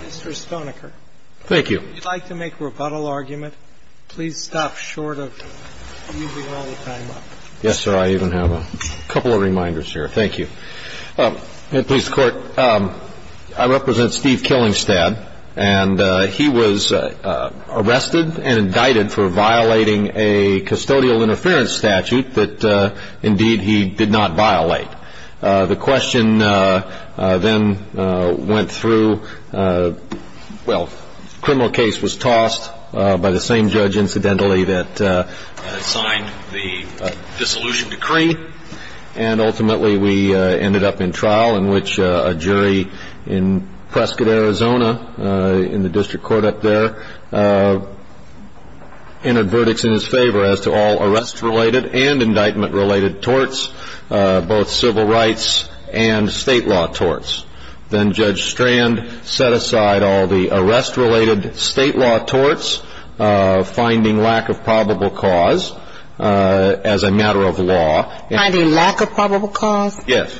Mr. Stoniker, would you like to make a rebuttal argument? Please stop short of using all the time up. Yes, sir. I even have a couple of reminders here. Thank you. In the police court, I represent Steve Killingstad, and he was arrested and indicted for violating a custodial interference statute that, indeed, he did not violate. The question then went through. Well, the criminal case was tossed by the same judge, incidentally, that signed the dissolution decree, and ultimately we ended up in trial in which a jury in Prescott, Arizona, in the district court up there, entered verdicts in his favor as to all arrest-related and indictment-related torts, both civil rights and state law torts. Then Judge Strand set aside all the arrest-related state law torts, finding lack of probable cause as a matter of law. Finding lack of probable cause? Yes.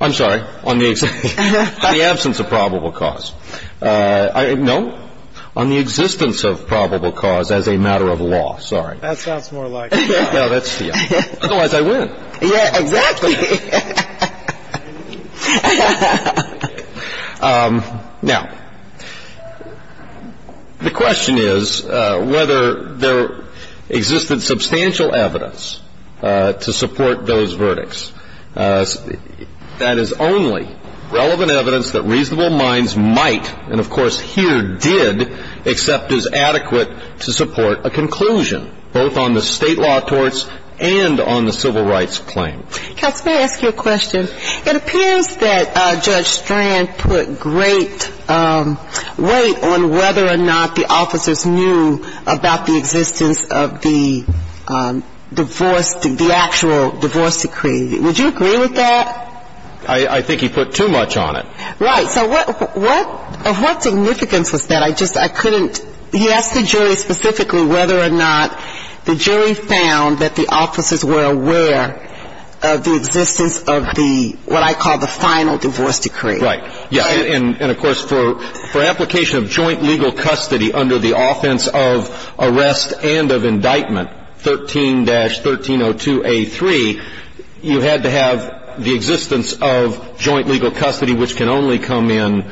I'm sorry. On the absence of probable cause. No. On the existence of probable cause as a matter of law. Sorry. That sounds more like it. No, that's the other. Otherwise, I win. Yeah, exactly. Now, the question is whether there existed substantial evidence to support those verdicts. That is only relevant evidence that reasonable minds might, and of course here did, accept as adequate to support a conclusion, both on the state law torts and on the civil rights claim. Counsel, may I ask you a question? It appears that Judge Strand put great weight on whether or not the officers knew about the existence of the divorce, the actual divorce decree. Would you agree with that? I think he put too much on it. Right. So what significance was that? I just, I couldn't. He asked the jury specifically whether or not the jury found that the officers were aware of the existence of the, what I call the final divorce decree. Right. And of course for application of joint legal custody under the offense of arrest and of indictment 13-1302A3, you had to have the existence of joint legal custody, which can only come in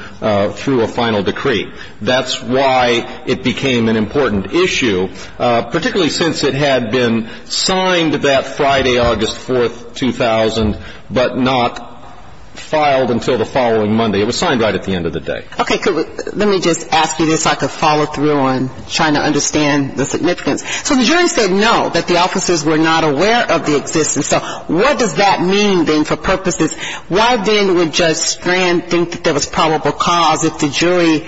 through a final decree. That's why it became an important issue, particularly since it had been signed that Friday, August 4th, 2000, but not filed until the following Monday. It was signed right at the end of the day. Okay. Let me just ask you this so I can follow through on trying to understand the significance. So the jury said no, that the officers were not aware of the existence. So what does that mean then for purposes? Why then would Judge Strand think that there was probable cause if the jury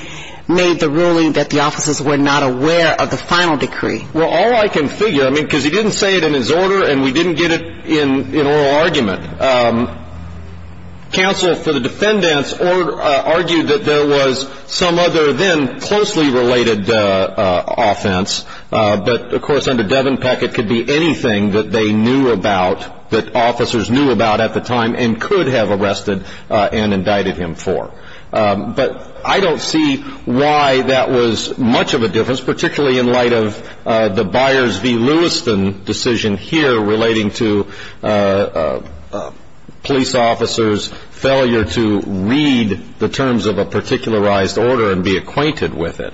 made the ruling that the officers were not aware of the final decree? Well, all I can figure, I mean, because he didn't say it in his order and we didn't get it in oral argument. Counsel for the defendants argued that there was some other then closely related offense, but of course under Devin Peck it could be anything that they knew about, that officers knew about at the time and could have arrested and indicted him for. But I don't see why that was much of a difference, particularly in light of the Byers v. Lewiston decision here relating to police officers' failure to read the terms of a particularized order and be acquainted with it.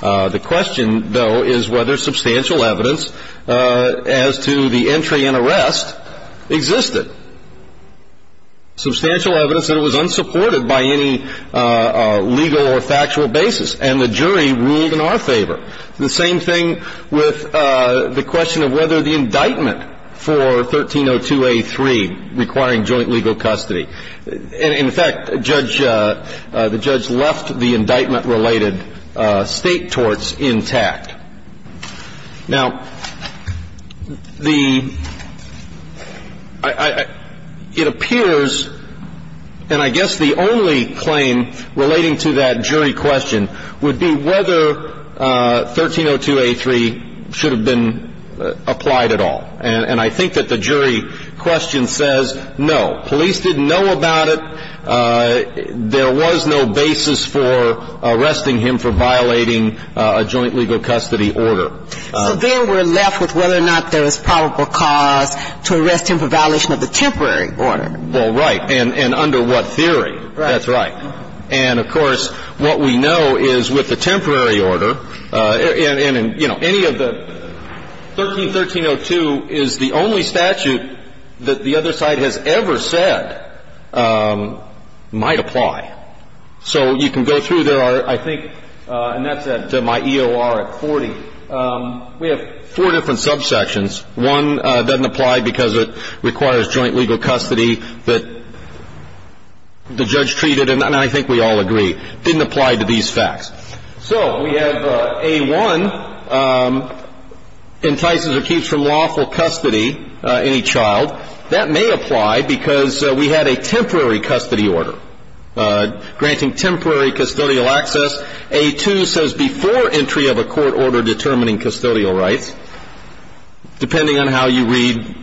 The question, though, is whether substantial evidence as to the entry and arrest existed. Substantial evidence that it was unsupported by any legal or factual basis, and the jury ruled in our favor. The same thing with the question of whether the indictment for 1302A3 requiring joint legal custody. In fact, the judge left the indictment-related state torts intact. Now, it appears, and I guess the only claim relating to that jury question, would be whether 1302A3 should have been applied at all. And I think that the jury question says, no, police didn't know about it. There was no basis for arresting him for violating a joint legal custody order. So then we're left with whether or not there was probable cause to arrest him for violation of the temporary order. Well, right. And under what theory? Right. That's right. And, of course, what we know is with the temporary order, and, you know, any of the 131302 is the only statute that the other side has ever said might apply. So you can go through. There are, I think, and that's at my EOR at 40. We have four different subsections. One doesn't apply because it requires joint legal custody that the judge treated, and I think we all agree, didn't apply to these facts. So we have A1 entices or keeps from lawful custody any child. That may apply because we had a temporary custody order granting temporary custodial access. A2 says before entry of a court order determining custodial rights, depending on how you read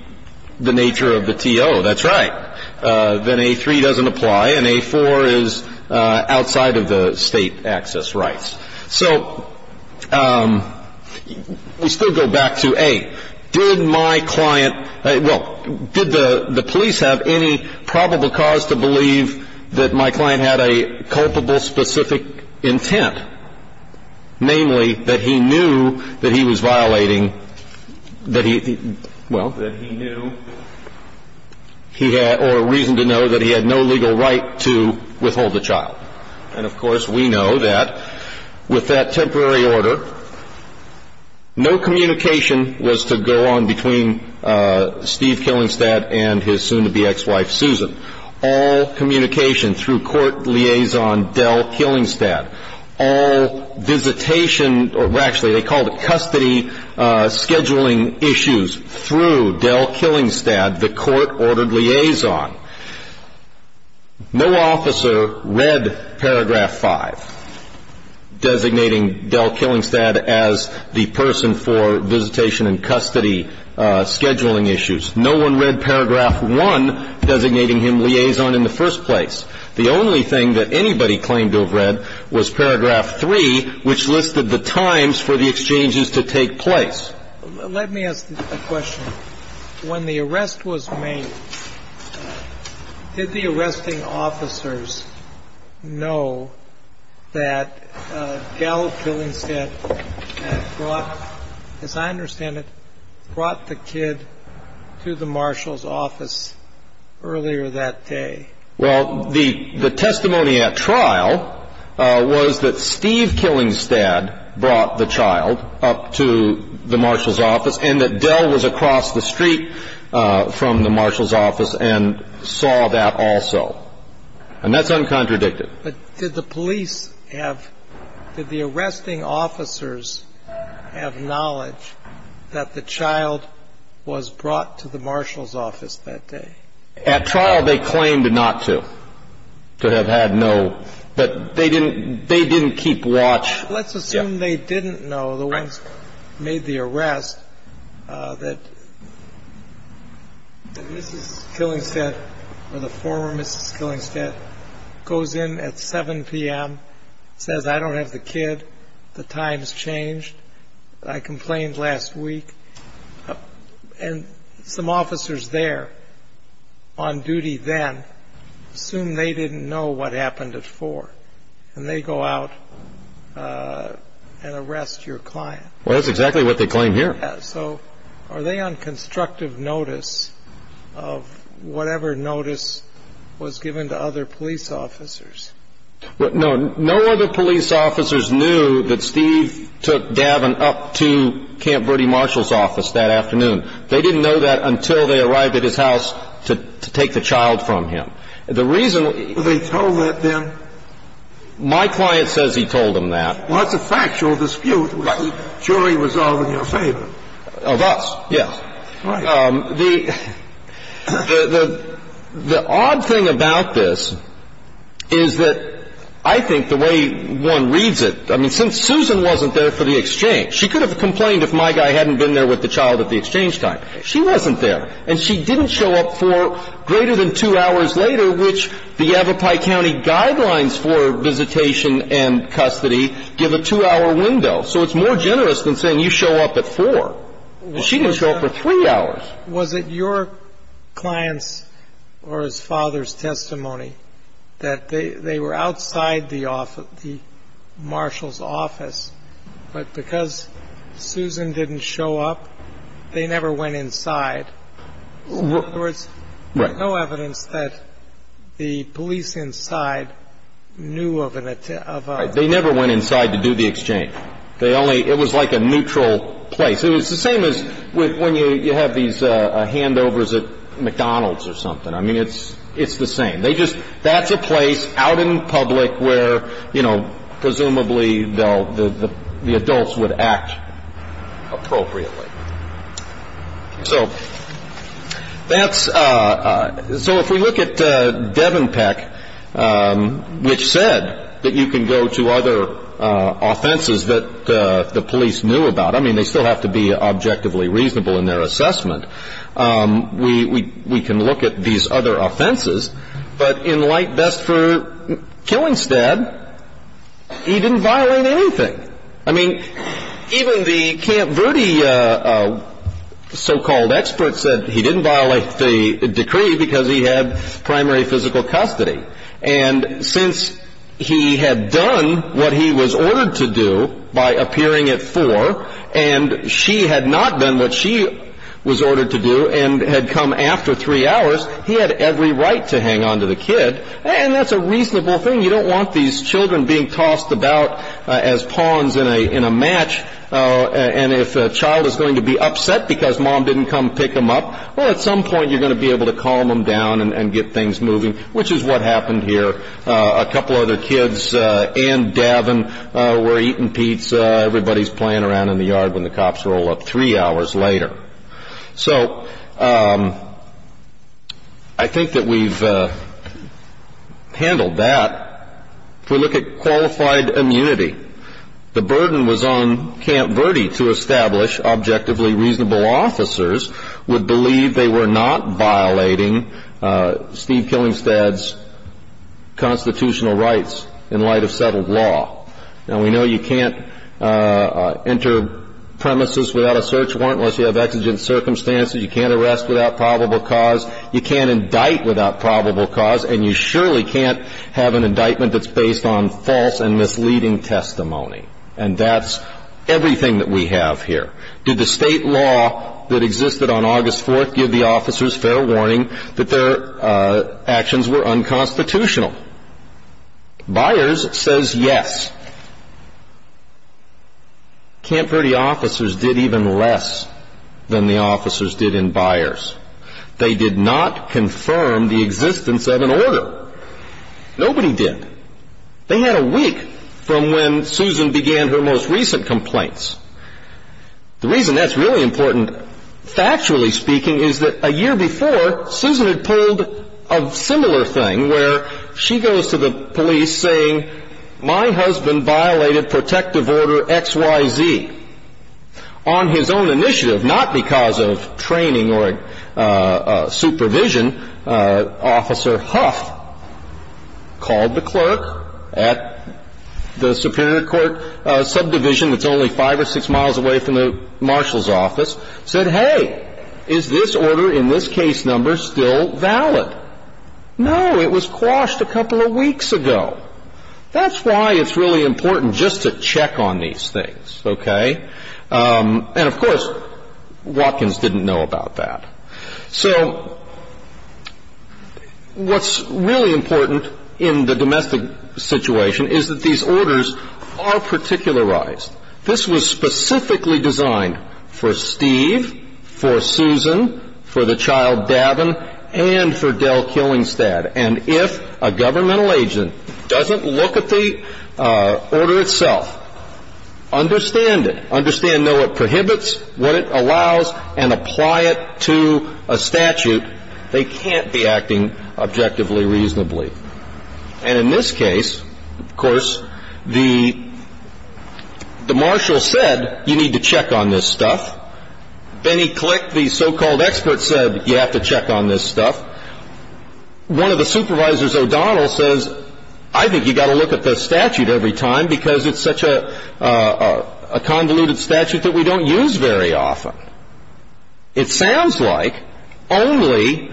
the nature of the T.O. That's right. Then A3 doesn't apply, and A4 is outside of the state access rights. So we still go back to, A, did my client, well, did the police have any probable cause to believe that my client had a culpable specific intent? Namely, that he knew that he was violating, that he, well, that he knew he had or reason to know that he had no legal right to withhold the child. And, of course, we know that with that temporary order, no communication was to go on between Steve Killingstad and his soon-to-be ex-wife, Susan. All communication through court liaison Del Killingstad. All visitation, or actually they called it custody scheduling issues through Del Killingstad, the court-ordered liaison. No officer read paragraph 5 designating Del Killingstad as the person for visitation and custody scheduling issues. No one read paragraph 1 designating him liaison in the first place. The only thing that anybody claimed to have read was paragraph 3, which listed the times for the exchanges to take place. Let me ask a question. When the arrest was made, did the arresting officers know that Del Killingstad had brought, as I understand it, brought the kid to the marshal's office earlier that day? Well, the testimony at trial was that Steve Killingstad brought the child up to the marshal's office and that Del was across the street from the marshal's office and saw that also. And that's uncontradicted. But did the police have, did the arresting officers have knowledge that the child was brought to the marshal's office that day? At trial, they claimed not to, to have had no. But they didn't keep watch. Let's assume they didn't know, the ones who made the arrest, that Mrs. Killingstad or the former Mrs. Killingstad goes in at 7 p.m., says, I don't have the kid, the time's changed, I complained last week. And some officers there on duty then assume they didn't know what happened at 4. And they go out and arrest your client. Well, that's exactly what they claim here. So are they on constructive notice of whatever notice was given to other police officers? No. No other police officers knew that Steve took Davin up to Camp Bertie Marshall's office that afternoon. They didn't know that until they arrived at his house to take the child from him. The reason they told that then? My client says he told them that. Well, that's a factual dispute. The jury was all in your favor. Of us, yes. Right. The odd thing about this is that I think the way one reads it, I mean, since Susan wasn't there for the exchange, she could have complained if my guy hadn't been there with the child at the exchange time. She wasn't there. And she didn't show up for greater than two hours later, which the Avapi County guidelines for visitation and custody give a two-hour window. So it's more generous than saying you show up at 4. She didn't show up for three hours. Was it your client's or his father's testimony that they were outside the office, the Marshall's office, but because Susan didn't show up, they never went inside? In other words, there's no evidence that the police inside knew of an attack. They never went inside to do the exchange. They only – it was like a neutral place. It was the same as when you have these handovers at McDonald's or something. I mean, it's the same. They just – that's a place out in public where, you know, presumably the adults would act appropriately. So that's – so if we look at Devenpeck, which said that you can go to other offenses that the police knew about, I mean, they still have to be objectively reasonable in their assessment, we can look at these other offenses. But in light best for Killingstead, he didn't violate anything. I mean, even the Camp Verde so-called experts said he didn't violate the decree because he had primary physical custody. And since he had done what he was ordered to do by appearing at four, and she had not done what she was ordered to do and had come after three hours, he had every right to hang on to the kid. And that's a reasonable thing. You don't want these children being tossed about as pawns in a match. And if a child is going to be upset because mom didn't come pick them up, well, at some point you're going to be able to calm them down and get things moving, which is what happened here. A couple other kids and Davin were eating pizza. Everybody's playing around in the yard when the cops roll up three hours later. So I think that we've handled that. If we look at qualified immunity, the burden was on Camp Verde to establish objectively reasonable officers would believe they were not violating Steve Killingstad's constitutional rights in light of settled law. Now, we know you can't enter premises without a search warrant unless you have exigent circumstances. You can't arrest without probable cause. You can't indict without probable cause. And you surely can't have an indictment that's based on false and misleading testimony. And that's everything that we have here. Did the state law that existed on August 4th give the officers fair warning that their actions were unconstitutional? Byers says yes. Camp Verde officers did even less than the officers did in Byers. They did not confirm the existence of an order. Nobody did. They had a week from when Susan began her most recent complaints. The reason that's really important, factually speaking, is that a year before, Susan had pulled a similar thing where she goes to the police saying, my husband violated protective order XYZ. On his own initiative, not because of training or supervision, Officer Huff called the clerk at the Superior Court subdivision that's only five or six miles away from the marshal's office, said, hey, is this order in this case number still valid? No, it was quashed a couple of weeks ago. That's why it's really important just to check on these things, okay? And, of course, Watkins didn't know about that. So what's really important in the domestic situation is that these orders are particularized. This was specifically designed for Steve, for Susan, for the child Davin, and for Del Killingstad. And if a governmental agent doesn't look at the order itself, understand it. Understand, know what prohibits, what it allows, and apply it to a statute, they can't be acting objectively reasonably. And in this case, of course, the marshal said, you need to check on this stuff. Then he clicked, the so-called expert said, you have to check on this stuff. One of the supervisors, O'Donnell, says, I think you've got to look at the statute every time because it's such a convoluted statute that we don't use very often. It sounds like only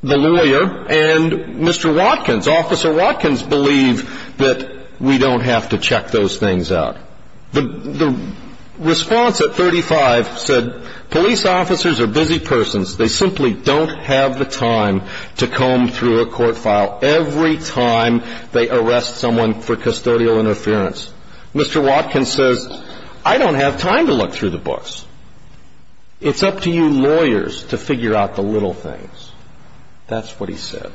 the lawyer and Mr. Watkins, Officer Watkins, believe that we don't have to check those things out. The response at 35 said, police officers are busy persons. They simply don't have the time to comb through a court file every time they arrest someone for custodial interference. Mr. Watkins says, I don't have time to look through the books. It's up to you lawyers to figure out the little things. That's what he said.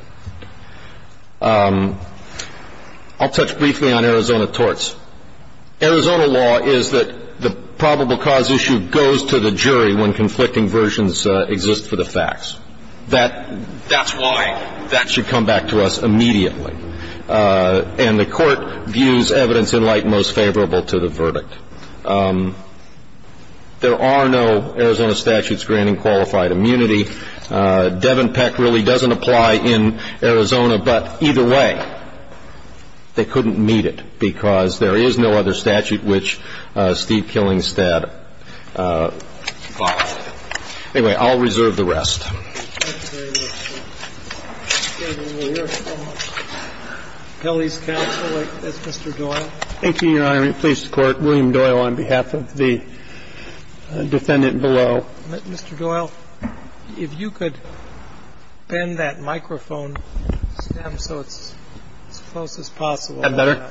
I'll touch briefly on Arizona torts. Arizona law is that the probable cause issue goes to the jury when conflicting versions exist for the facts. That's why that should come back to us immediately. And the court views evidence in light most favorable to the verdict. There are no Arizona statutes granting qualified immunity. Devon Peck really doesn't apply in Arizona. But either way, they couldn't meet it because there is no other statute which Steve Killingstad follows. Anyway, I'll reserve the rest. Thank you. Thank you very much, Judge. Mr. Doyle. Thank you, Your Honor. I'm going to please the Court. William Doyle on behalf of the defendant below. Mr. Doyle, if you could bend that microphone stem so it's as close as possible. Is that better?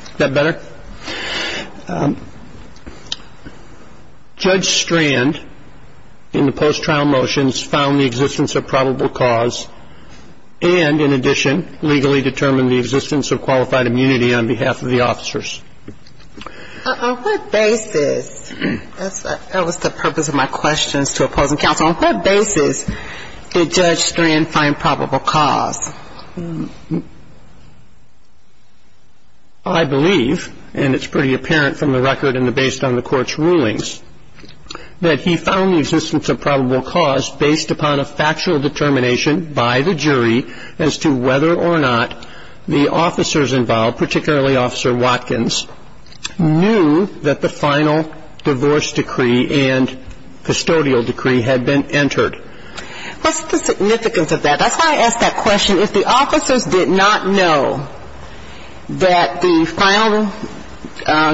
Is that better? Judge Strand, in the post-trial motions, found the existence of probable cause and, in addition, legally determined the existence of qualified immunity on behalf of the officers. On what basis? That was the purpose of my questions to opposing counsel. On what basis did Judge Strand find probable cause? I believe, and it's pretty apparent from the record and based on the Court's rulings, that he found the existence of probable cause based upon a factual determination by the jury as to whether or not the officers involved, particularly Officer Watkins, knew that the final divorce decree and custodial decree had been entered. What's the significance of that? That's why I asked that question. If the officers did not know that the final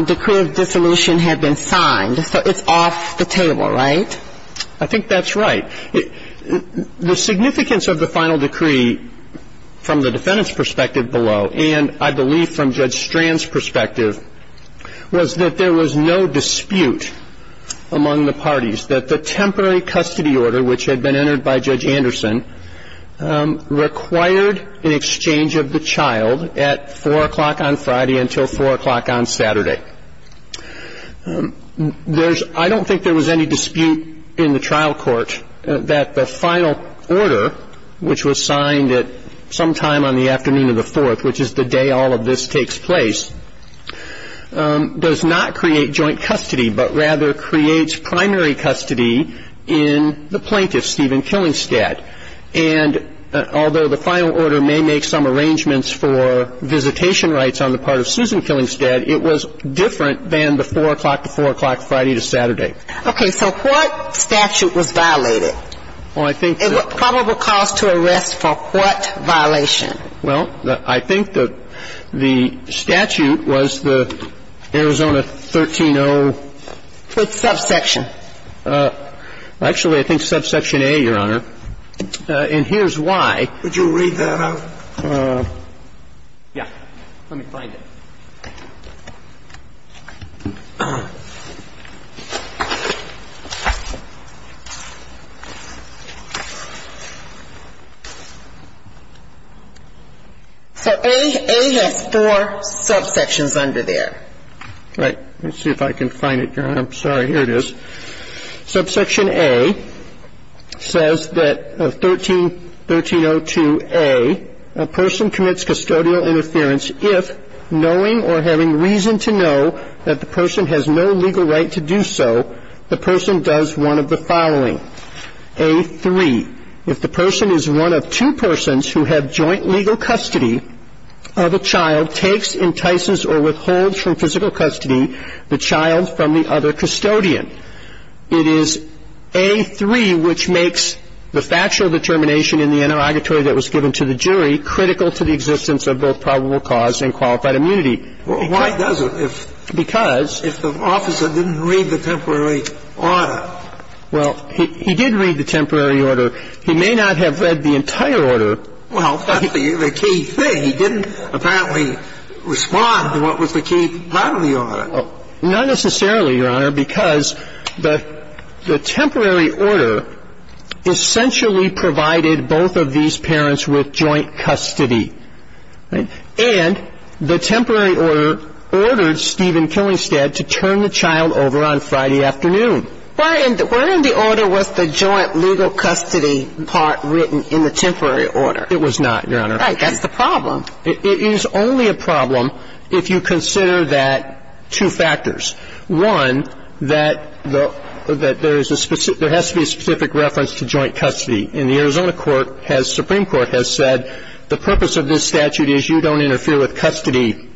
decree of dissolution had been signed, so it's off the table, right? I think that's right. The significance of the final decree from the defendant's perspective below and, I believe, from Judge Strand's perspective, was that there was no dispute among the parties, that the temporary custody order, which had been entered by Judge Anderson, required an exchange of the child at 4 o'clock on Friday until 4 o'clock on Saturday. I don't think there was any dispute in the trial court that the final order, which was signed at some time on the afternoon of the 4th, which is the day all of this takes place, does not create joint custody, but rather creates primary custody in the plaintiff, Stephen Killingstead. And although the final order may make some arrangements for visitation rights on the part of Susan Killingstead, it was different than the 4 o'clock to 4 o'clock, Friday to Saturday. Okay. So what statute was violated? Well, I think that the ---- And what probable cause to arrest for what violation? Well, I think that the statute was the Arizona 13-0 ---- What subsection? Actually, I think subsection A, Your Honor. And here's why. Would you read that out? Yeah. Let me find it. Okay. So A has four subsections under there. Right. Let's see if I can find it, Your Honor. I'm sorry. Here it is. Subsection A says that 13-0-2-A, a person commits custodial interference if, knowing or having reason to know that the person has no legal right to do so, the person does one of the following. A-3, if the person is one of two persons who have joint legal custody of a child, takes, entices, or withholds from physical custody the child from the other custodian. It is A-3 which makes the factual determination in the interrogatory that was given to the jury critical to the existence of both probable cause and qualified immunity. Why does it? Because ---- If the officer didn't read the temporary order. Well, he did read the temporary order. He may not have read the entire order. Well, that's the key thing. He didn't apparently respond to what was the key part of the order. Not necessarily, Your Honor, because the temporary order essentially provided both of these parents with joint custody. And the temporary order ordered Stephen Killingstead to turn the child over on Friday afternoon. Weren't the order was the joint legal custody part written in the temporary order? It was not, Your Honor. Right. That's the problem. It is only a problem if you consider that two factors. One, that there has to be a specific reference to joint custody. And the Arizona Supreme Court has said the purpose of this statute is you don't interfere with custody,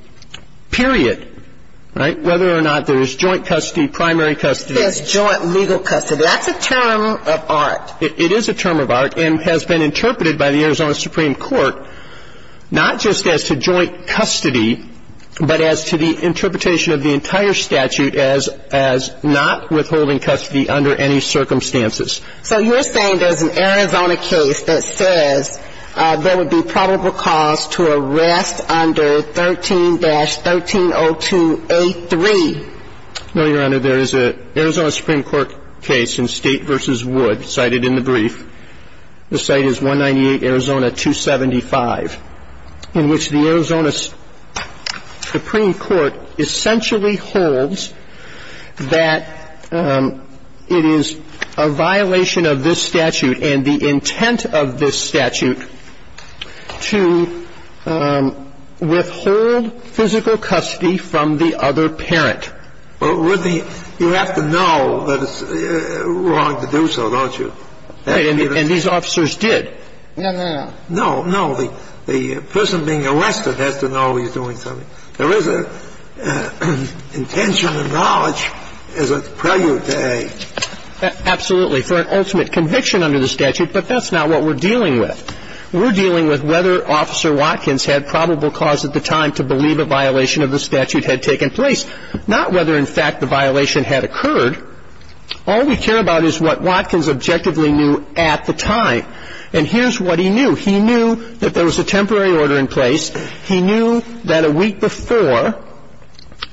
period. Right? Whether or not there's joint custody, primary custody. There's joint legal custody. It is a term of art. And has been interpreted by the Arizona Supreme Court not just as to joint custody, but as to the interpretation of the entire statute as not withholding custody under any circumstances. So you're saying there's an Arizona case that says there would be probable cause to arrest under 13-1302A3? No, Your Honor. There is a Arizona Supreme Court case in State v. Wood cited in the brief. The site is 198 Arizona 275, in which the Arizona Supreme Court essentially holds that it is a violation of this statute and the intent of this statute to withhold physical custody from the other parent. Well, you have to know that it's wrong to do so, don't you? And these officers did. No, no, no. No, no. The person being arrested has to know he's doing something. There is an intention and knowledge as it's prelude to A. Absolutely. For an ultimate conviction under the statute. But that's not what we're dealing with. We're dealing with whether Officer Watkins had probable cause at the time to believe a violation of the statute had taken place. Not whether, in fact, the violation had occurred. All we care about is what Watkins objectively knew at the time. And here's what he knew. He knew that there was a temporary order in place. He knew that a week before,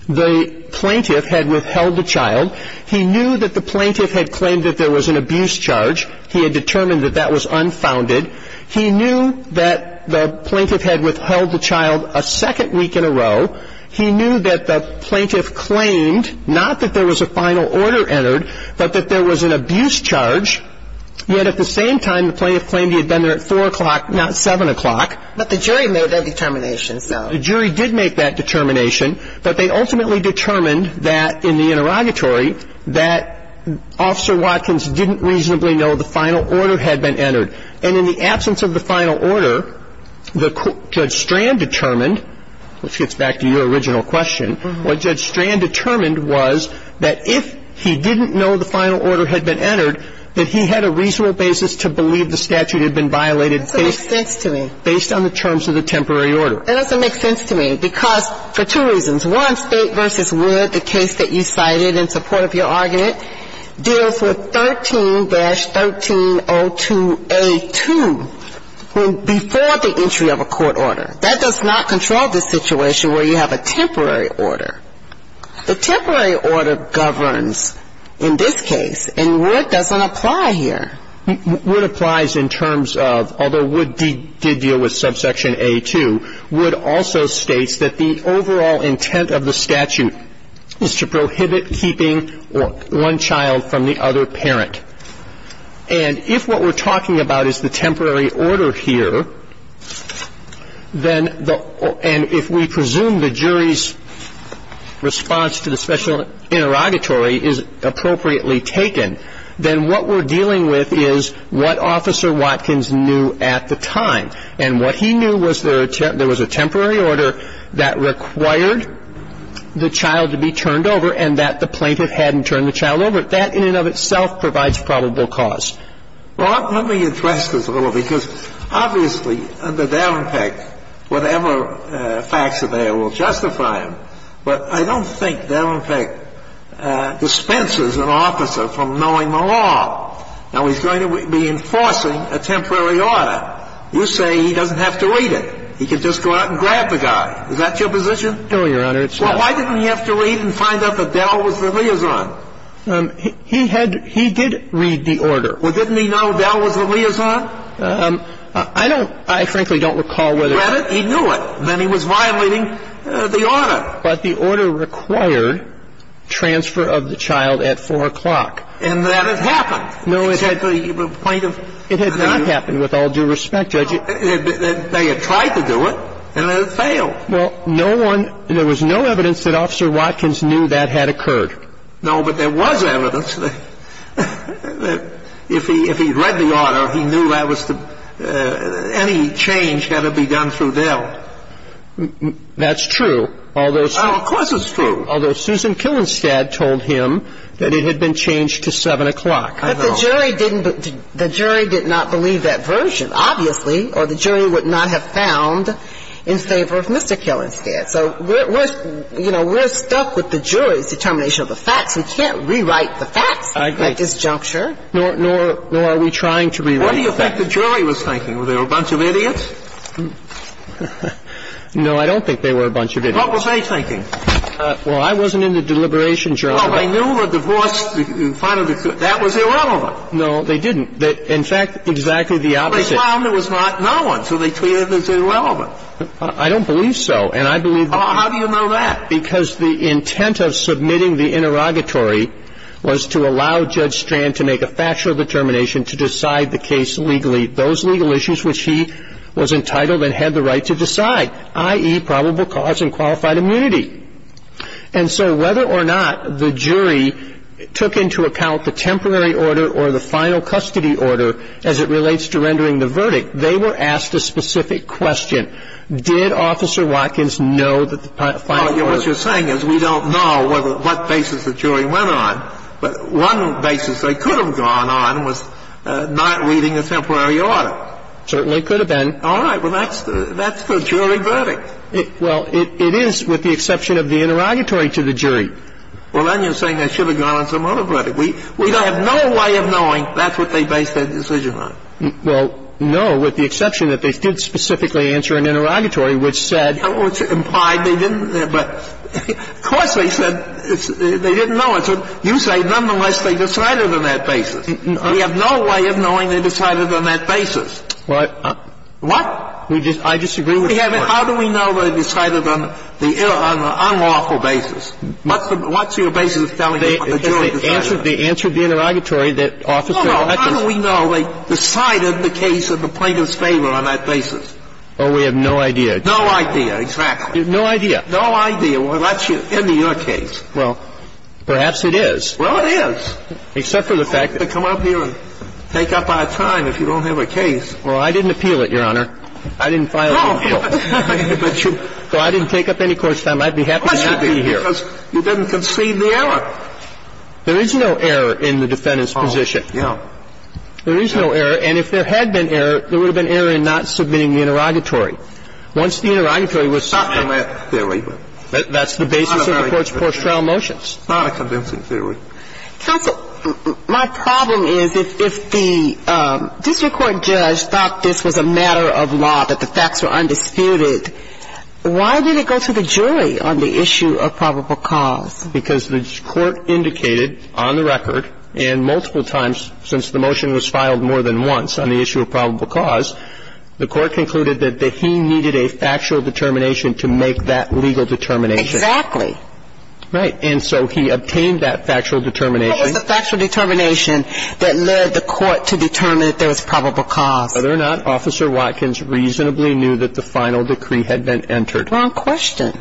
the plaintiff had withheld the child. He knew that the plaintiff had claimed that there was an abuse charge. He had determined that that was unfounded. He knew that the plaintiff had withheld the child a second week in a row. He knew that the plaintiff claimed not that there was a final order entered, but that there was an abuse charge. Yet at the same time, the plaintiff claimed he had been there at 4 o'clock, not 7 o'clock. But the jury made that determination, so. The jury did make that determination. But they ultimately determined that in the interrogatory that Officer Watkins didn't reasonably know the final order had been entered. And in the absence of the final order, Judge Strand determined, which gets back to your original question. What Judge Strand determined was that if he didn't know the final order had been entered, that he had a reasonable basis to believe the statute had been violated. That doesn't make sense to me. Based on the terms of the temporary order. That doesn't make sense to me, because for two reasons. One, State v. Wood, the case that you cited in support of your argument, deals with 13-1302A2 before the entry of a court order. That does not control the situation where you have a temporary order. The temporary order governs in this case, and Wood doesn't apply here. Wood applies in terms of, although Wood did deal with subsection A2, Wood also states that the overall intent of the statute is to prohibit keeping one child from the other parent. And if what we're talking about is the temporary order here, then the, and if we presume the jury's response to the special interrogatory is appropriately taken, then what we're dealing with is what Officer Watkins knew at the time. And what he knew was there was a temporary order that required the child to be turned over and that the plaintiff hadn't turned the child over. That in and of itself provides probable cause. Well, let me address this a little, because obviously under Davenpick, whatever facts are there will justify him. But I don't think Davenpick dispenses an officer from knowing the law. Now, he's going to be enforcing a temporary order. You say he doesn't have to read it. He can just go out and grab the guy. Is that your position? No, Your Honor, it's not. Well, why didn't he have to read and find out that Dell was the liaison? He had, he did read the order. Well, didn't he know Dell was the liaison? I don't, I frankly don't recall whether. He read it, he knew it. Then he was violating the order. But the order required transfer of the child at 4 o'clock. And that had happened. No, it had. Well, that's a point of view. It had not happened. With all due respect, Judge, they had tried to do it, and they had failed. Well, no one, there was no evidence that Officer Watkins knew that had occurred. No, but there was evidence that if he read the order, he knew that was the, any change had to be done through Dell. That's true. Although, Of course it's true. Although Susan Killenstad told him that it had been changed to 7 o'clock. But the jury didn't, the jury did not believe that version, obviously, or the jury would not have found in favor of Mr. Killenstad. So we're, you know, we're stuck with the jury's determination of the facts. We can't rewrite the facts at this juncture. I agree. Nor are we trying to rewrite the facts. What do you think the jury was thinking? Were they a bunch of idiots? No, I don't think they were a bunch of idiots. What was they thinking? Well, I wasn't in the deliberation journal. Well, they knew the divorce finally occurred. That was irrelevant. No, they didn't. In fact, exactly the opposite. They found there was not known, so they treated it as irrelevant. I don't believe so. And I believe that. Well, how do you know that? Because the intent of submitting the interrogatory was to allow Judge Strand to make a factual determination to decide the case legally, those legal issues which he was entitled and had the right to decide, i.e., probable cause and qualified immunity. And so whether or not the jury took into account the temporary order or the final custody order as it relates to rendering the verdict, they were asked a specific question. Did Officer Watkins know that the final order was? What you're saying is we don't know what basis the jury went on. But one basis they could have gone on was not reading the temporary order. Certainly could have been. All right. Well, that's the jury verdict. Well, it is with the exception of the interrogatory to the jury. Well, then you're saying they should have gone on some other verdict. We have no way of knowing that's what they based their decision on. Well, no, with the exception that they did specifically answer an interrogatory, which said they didn't know. You say nonetheless they decided on that basis. We have no way of knowing they decided on that basis. What? What? I disagree with you. How do we know they decided on the unlawful basis? What's your basis of telling me what the jury decided? They answered the interrogatory that Officer Watkins. No, no. How do we know they decided the case in the plaintiff's favor on that basis? Oh, we have no idea. No idea. Exactly. No idea. No idea. Well, that's in your case. Well, perhaps it is. Well, it is. Except for the fact that you have to come up here and take up our time if you don't have a case. Well, I didn't appeal it, Your Honor. I didn't file an appeal. Well, I didn't take up any court's time. I'd be happy to not be here. Of course you did, because you didn't concede the error. There is no error in the defendant's position. Oh, yeah. There is no error. And if there had been error, there would have been error in not submitting the interrogatory. Once the interrogatory was submitted. It's not an error theory. That's the basis of the court's post-trial motions. It's not a convincing theory. Counsel, my problem is if the district court judge thought this was a matter of law, that the facts were undisputed, why did it go to the jury on the issue of probable cause? Because the court indicated on the record and multiple times since the motion was filed more than once on the issue of probable cause, the court concluded that he needed a factual determination to make that legal determination. Exactly. Right. And so he obtained that factual determination. It was the factual determination that led the court to determine that there was probable cause. Whether or not Officer Watkins reasonably knew that the final decree had been entered. Wrong question.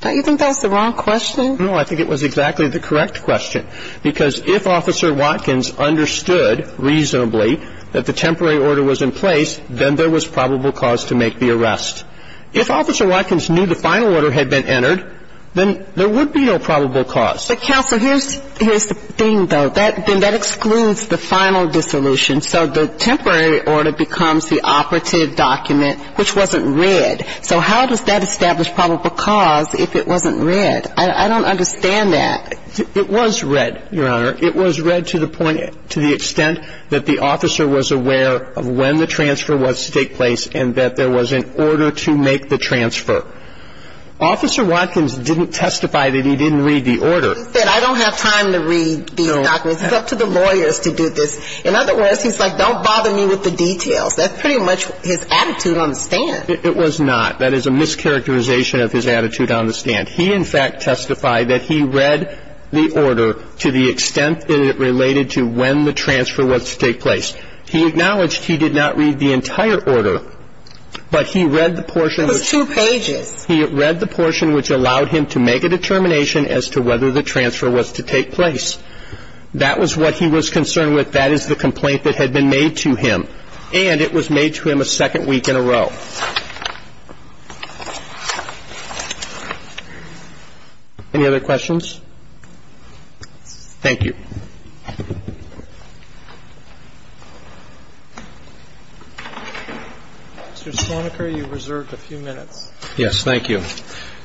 Don't you think that's the wrong question? No, I think it was exactly the correct question. Because if Officer Watkins understood reasonably that the temporary order was in place, then there was probable cause to make the arrest. If Officer Watkins knew the final order had been entered, then there would be no probable cause. But, Counsel, here's the thing, though. That excludes the final dissolution. So the temporary order becomes the operative document, which wasn't read. So how does that establish probable cause if it wasn't read? I don't understand that. It was read, Your Honor. It was read to the point, to the extent that the officer was aware of when the transfer was to take place and that there was an order to make the transfer. Officer Watkins didn't testify that he didn't read the order. He said, I don't have time to read these documents. It's up to the lawyers to do this. In other words, he's like, don't bother me with the details. That's pretty much his attitude on the stand. It was not. That is a mischaracterization of his attitude on the stand. He, in fact, testified that he read the order to the extent that it related to when the transfer was to take place. He acknowledged he did not read the entire order, but he read the portion. It was two pages. He read the portion which allowed him to make a determination as to whether the transfer was to take place. That was what he was concerned with. That is the complaint that had been made to him. And it was made to him a second week in a row. Any other questions? Thank you. Mr. Soniker, you reserved a few minutes. Yes. Thank you.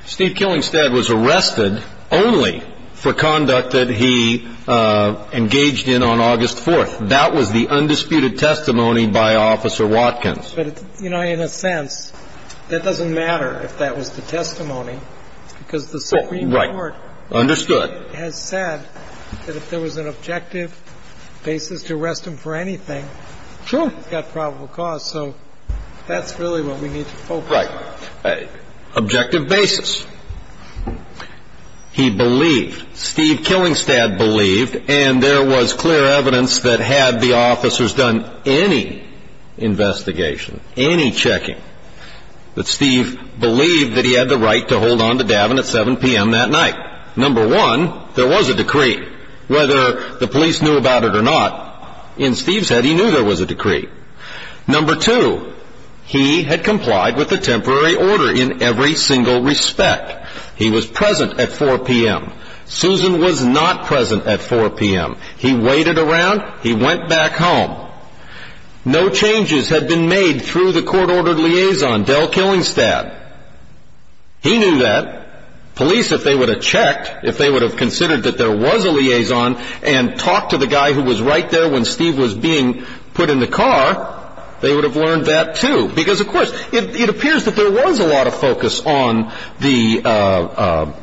Steve Killingstead was arrested only for conduct that he engaged in on August 4th. That was the undisputed testimony by Officer Watkins. But, you know, in a sense, that doesn't matter if that was the testimony because the Supreme Court. Understood. Has said that if there was an objective basis to arrest him for anything. Sure. He's got probable cause. So that's really what we need to focus on. Right. Objective basis. He believed, Steve Killingstead believed, and there was clear evidence that had the officers done any investigation, any checking, that Steve believed that he had the right to hold on to Davin at 7 p.m. that night. Number one, there was a decree. Whether the police knew about it or not, in Steve's head, he knew there was a decree. Number two, he had complied with the temporary order in every single respect. He was present at 4 p.m. Susan was not present at 4 p.m. He waited around. He went back home. No changes had been made through the court-ordered liaison, Del Killingstead. He knew that. Police, if they would have checked, if they would have considered that there was a liaison, and talked to the guy who was right there when Steve was being put in the car, they would have learned that too. Because, of course, it appears that there was a lot of focus on the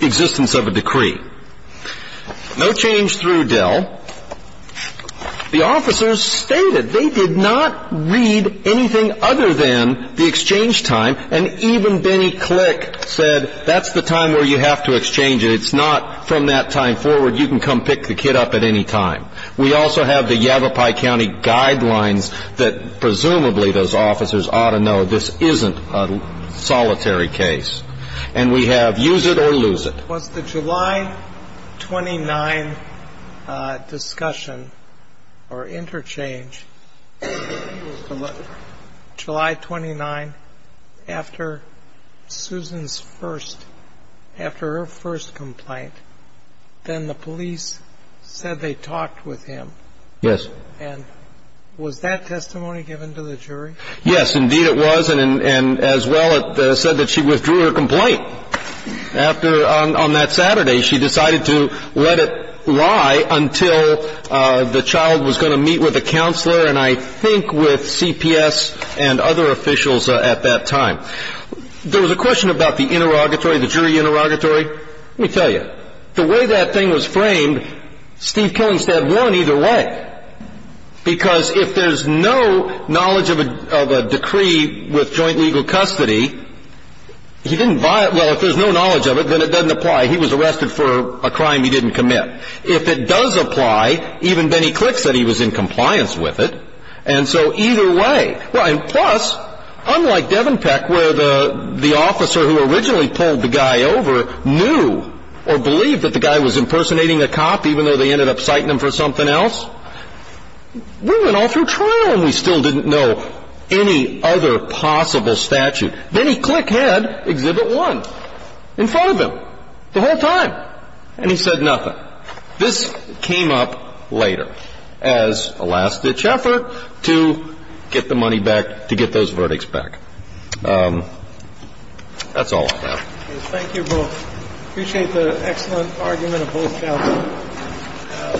existence of a decree. No change through Del. The officers stated they did not read anything other than the exchange time, and even Benny Click said that's the time where you have to exchange it. It's not from that time forward. You can come pick the kid up at any time. We also have the Yavapai County guidelines that presumably those officers ought to know this isn't a solitary case. And we have use it or lose it. Was the July 29 discussion or interchange, July 29, after Susan's first, after her first complaint, then the police said they talked with him? Yes. And was that testimony given to the jury? Yes, indeed it was, and as well it said that she withdrew her complaint. After, on that Saturday, she decided to let it lie until the child was going to meet with a counselor and I think with CPS and other officials at that time. There was a question about the interrogatory, the jury interrogatory. Let me tell you, the way that thing was framed, Steve Killingstead won either way. Because if there's no knowledge of a decree with joint legal custody, he didn't violate, well, if there's no knowledge of it, then it doesn't apply. He was arrested for a crime he didn't commit. If it does apply, even Benny Click said he was in compliance with it, and so either way. Plus, unlike Devenpeck where the officer who originally pulled the guy over knew or believed that the guy was impersonating a cop even though they ended up citing him for something else, we went all through trial and we still didn't know any other possible statute. Benny Click had Exhibit 1 in front of him the whole time, and he said nothing. This came up later as a last-ditch effort to get the money back, to get those verdicts back. That's all I have. Thank you both. Appreciate the excellent argument of both counsel.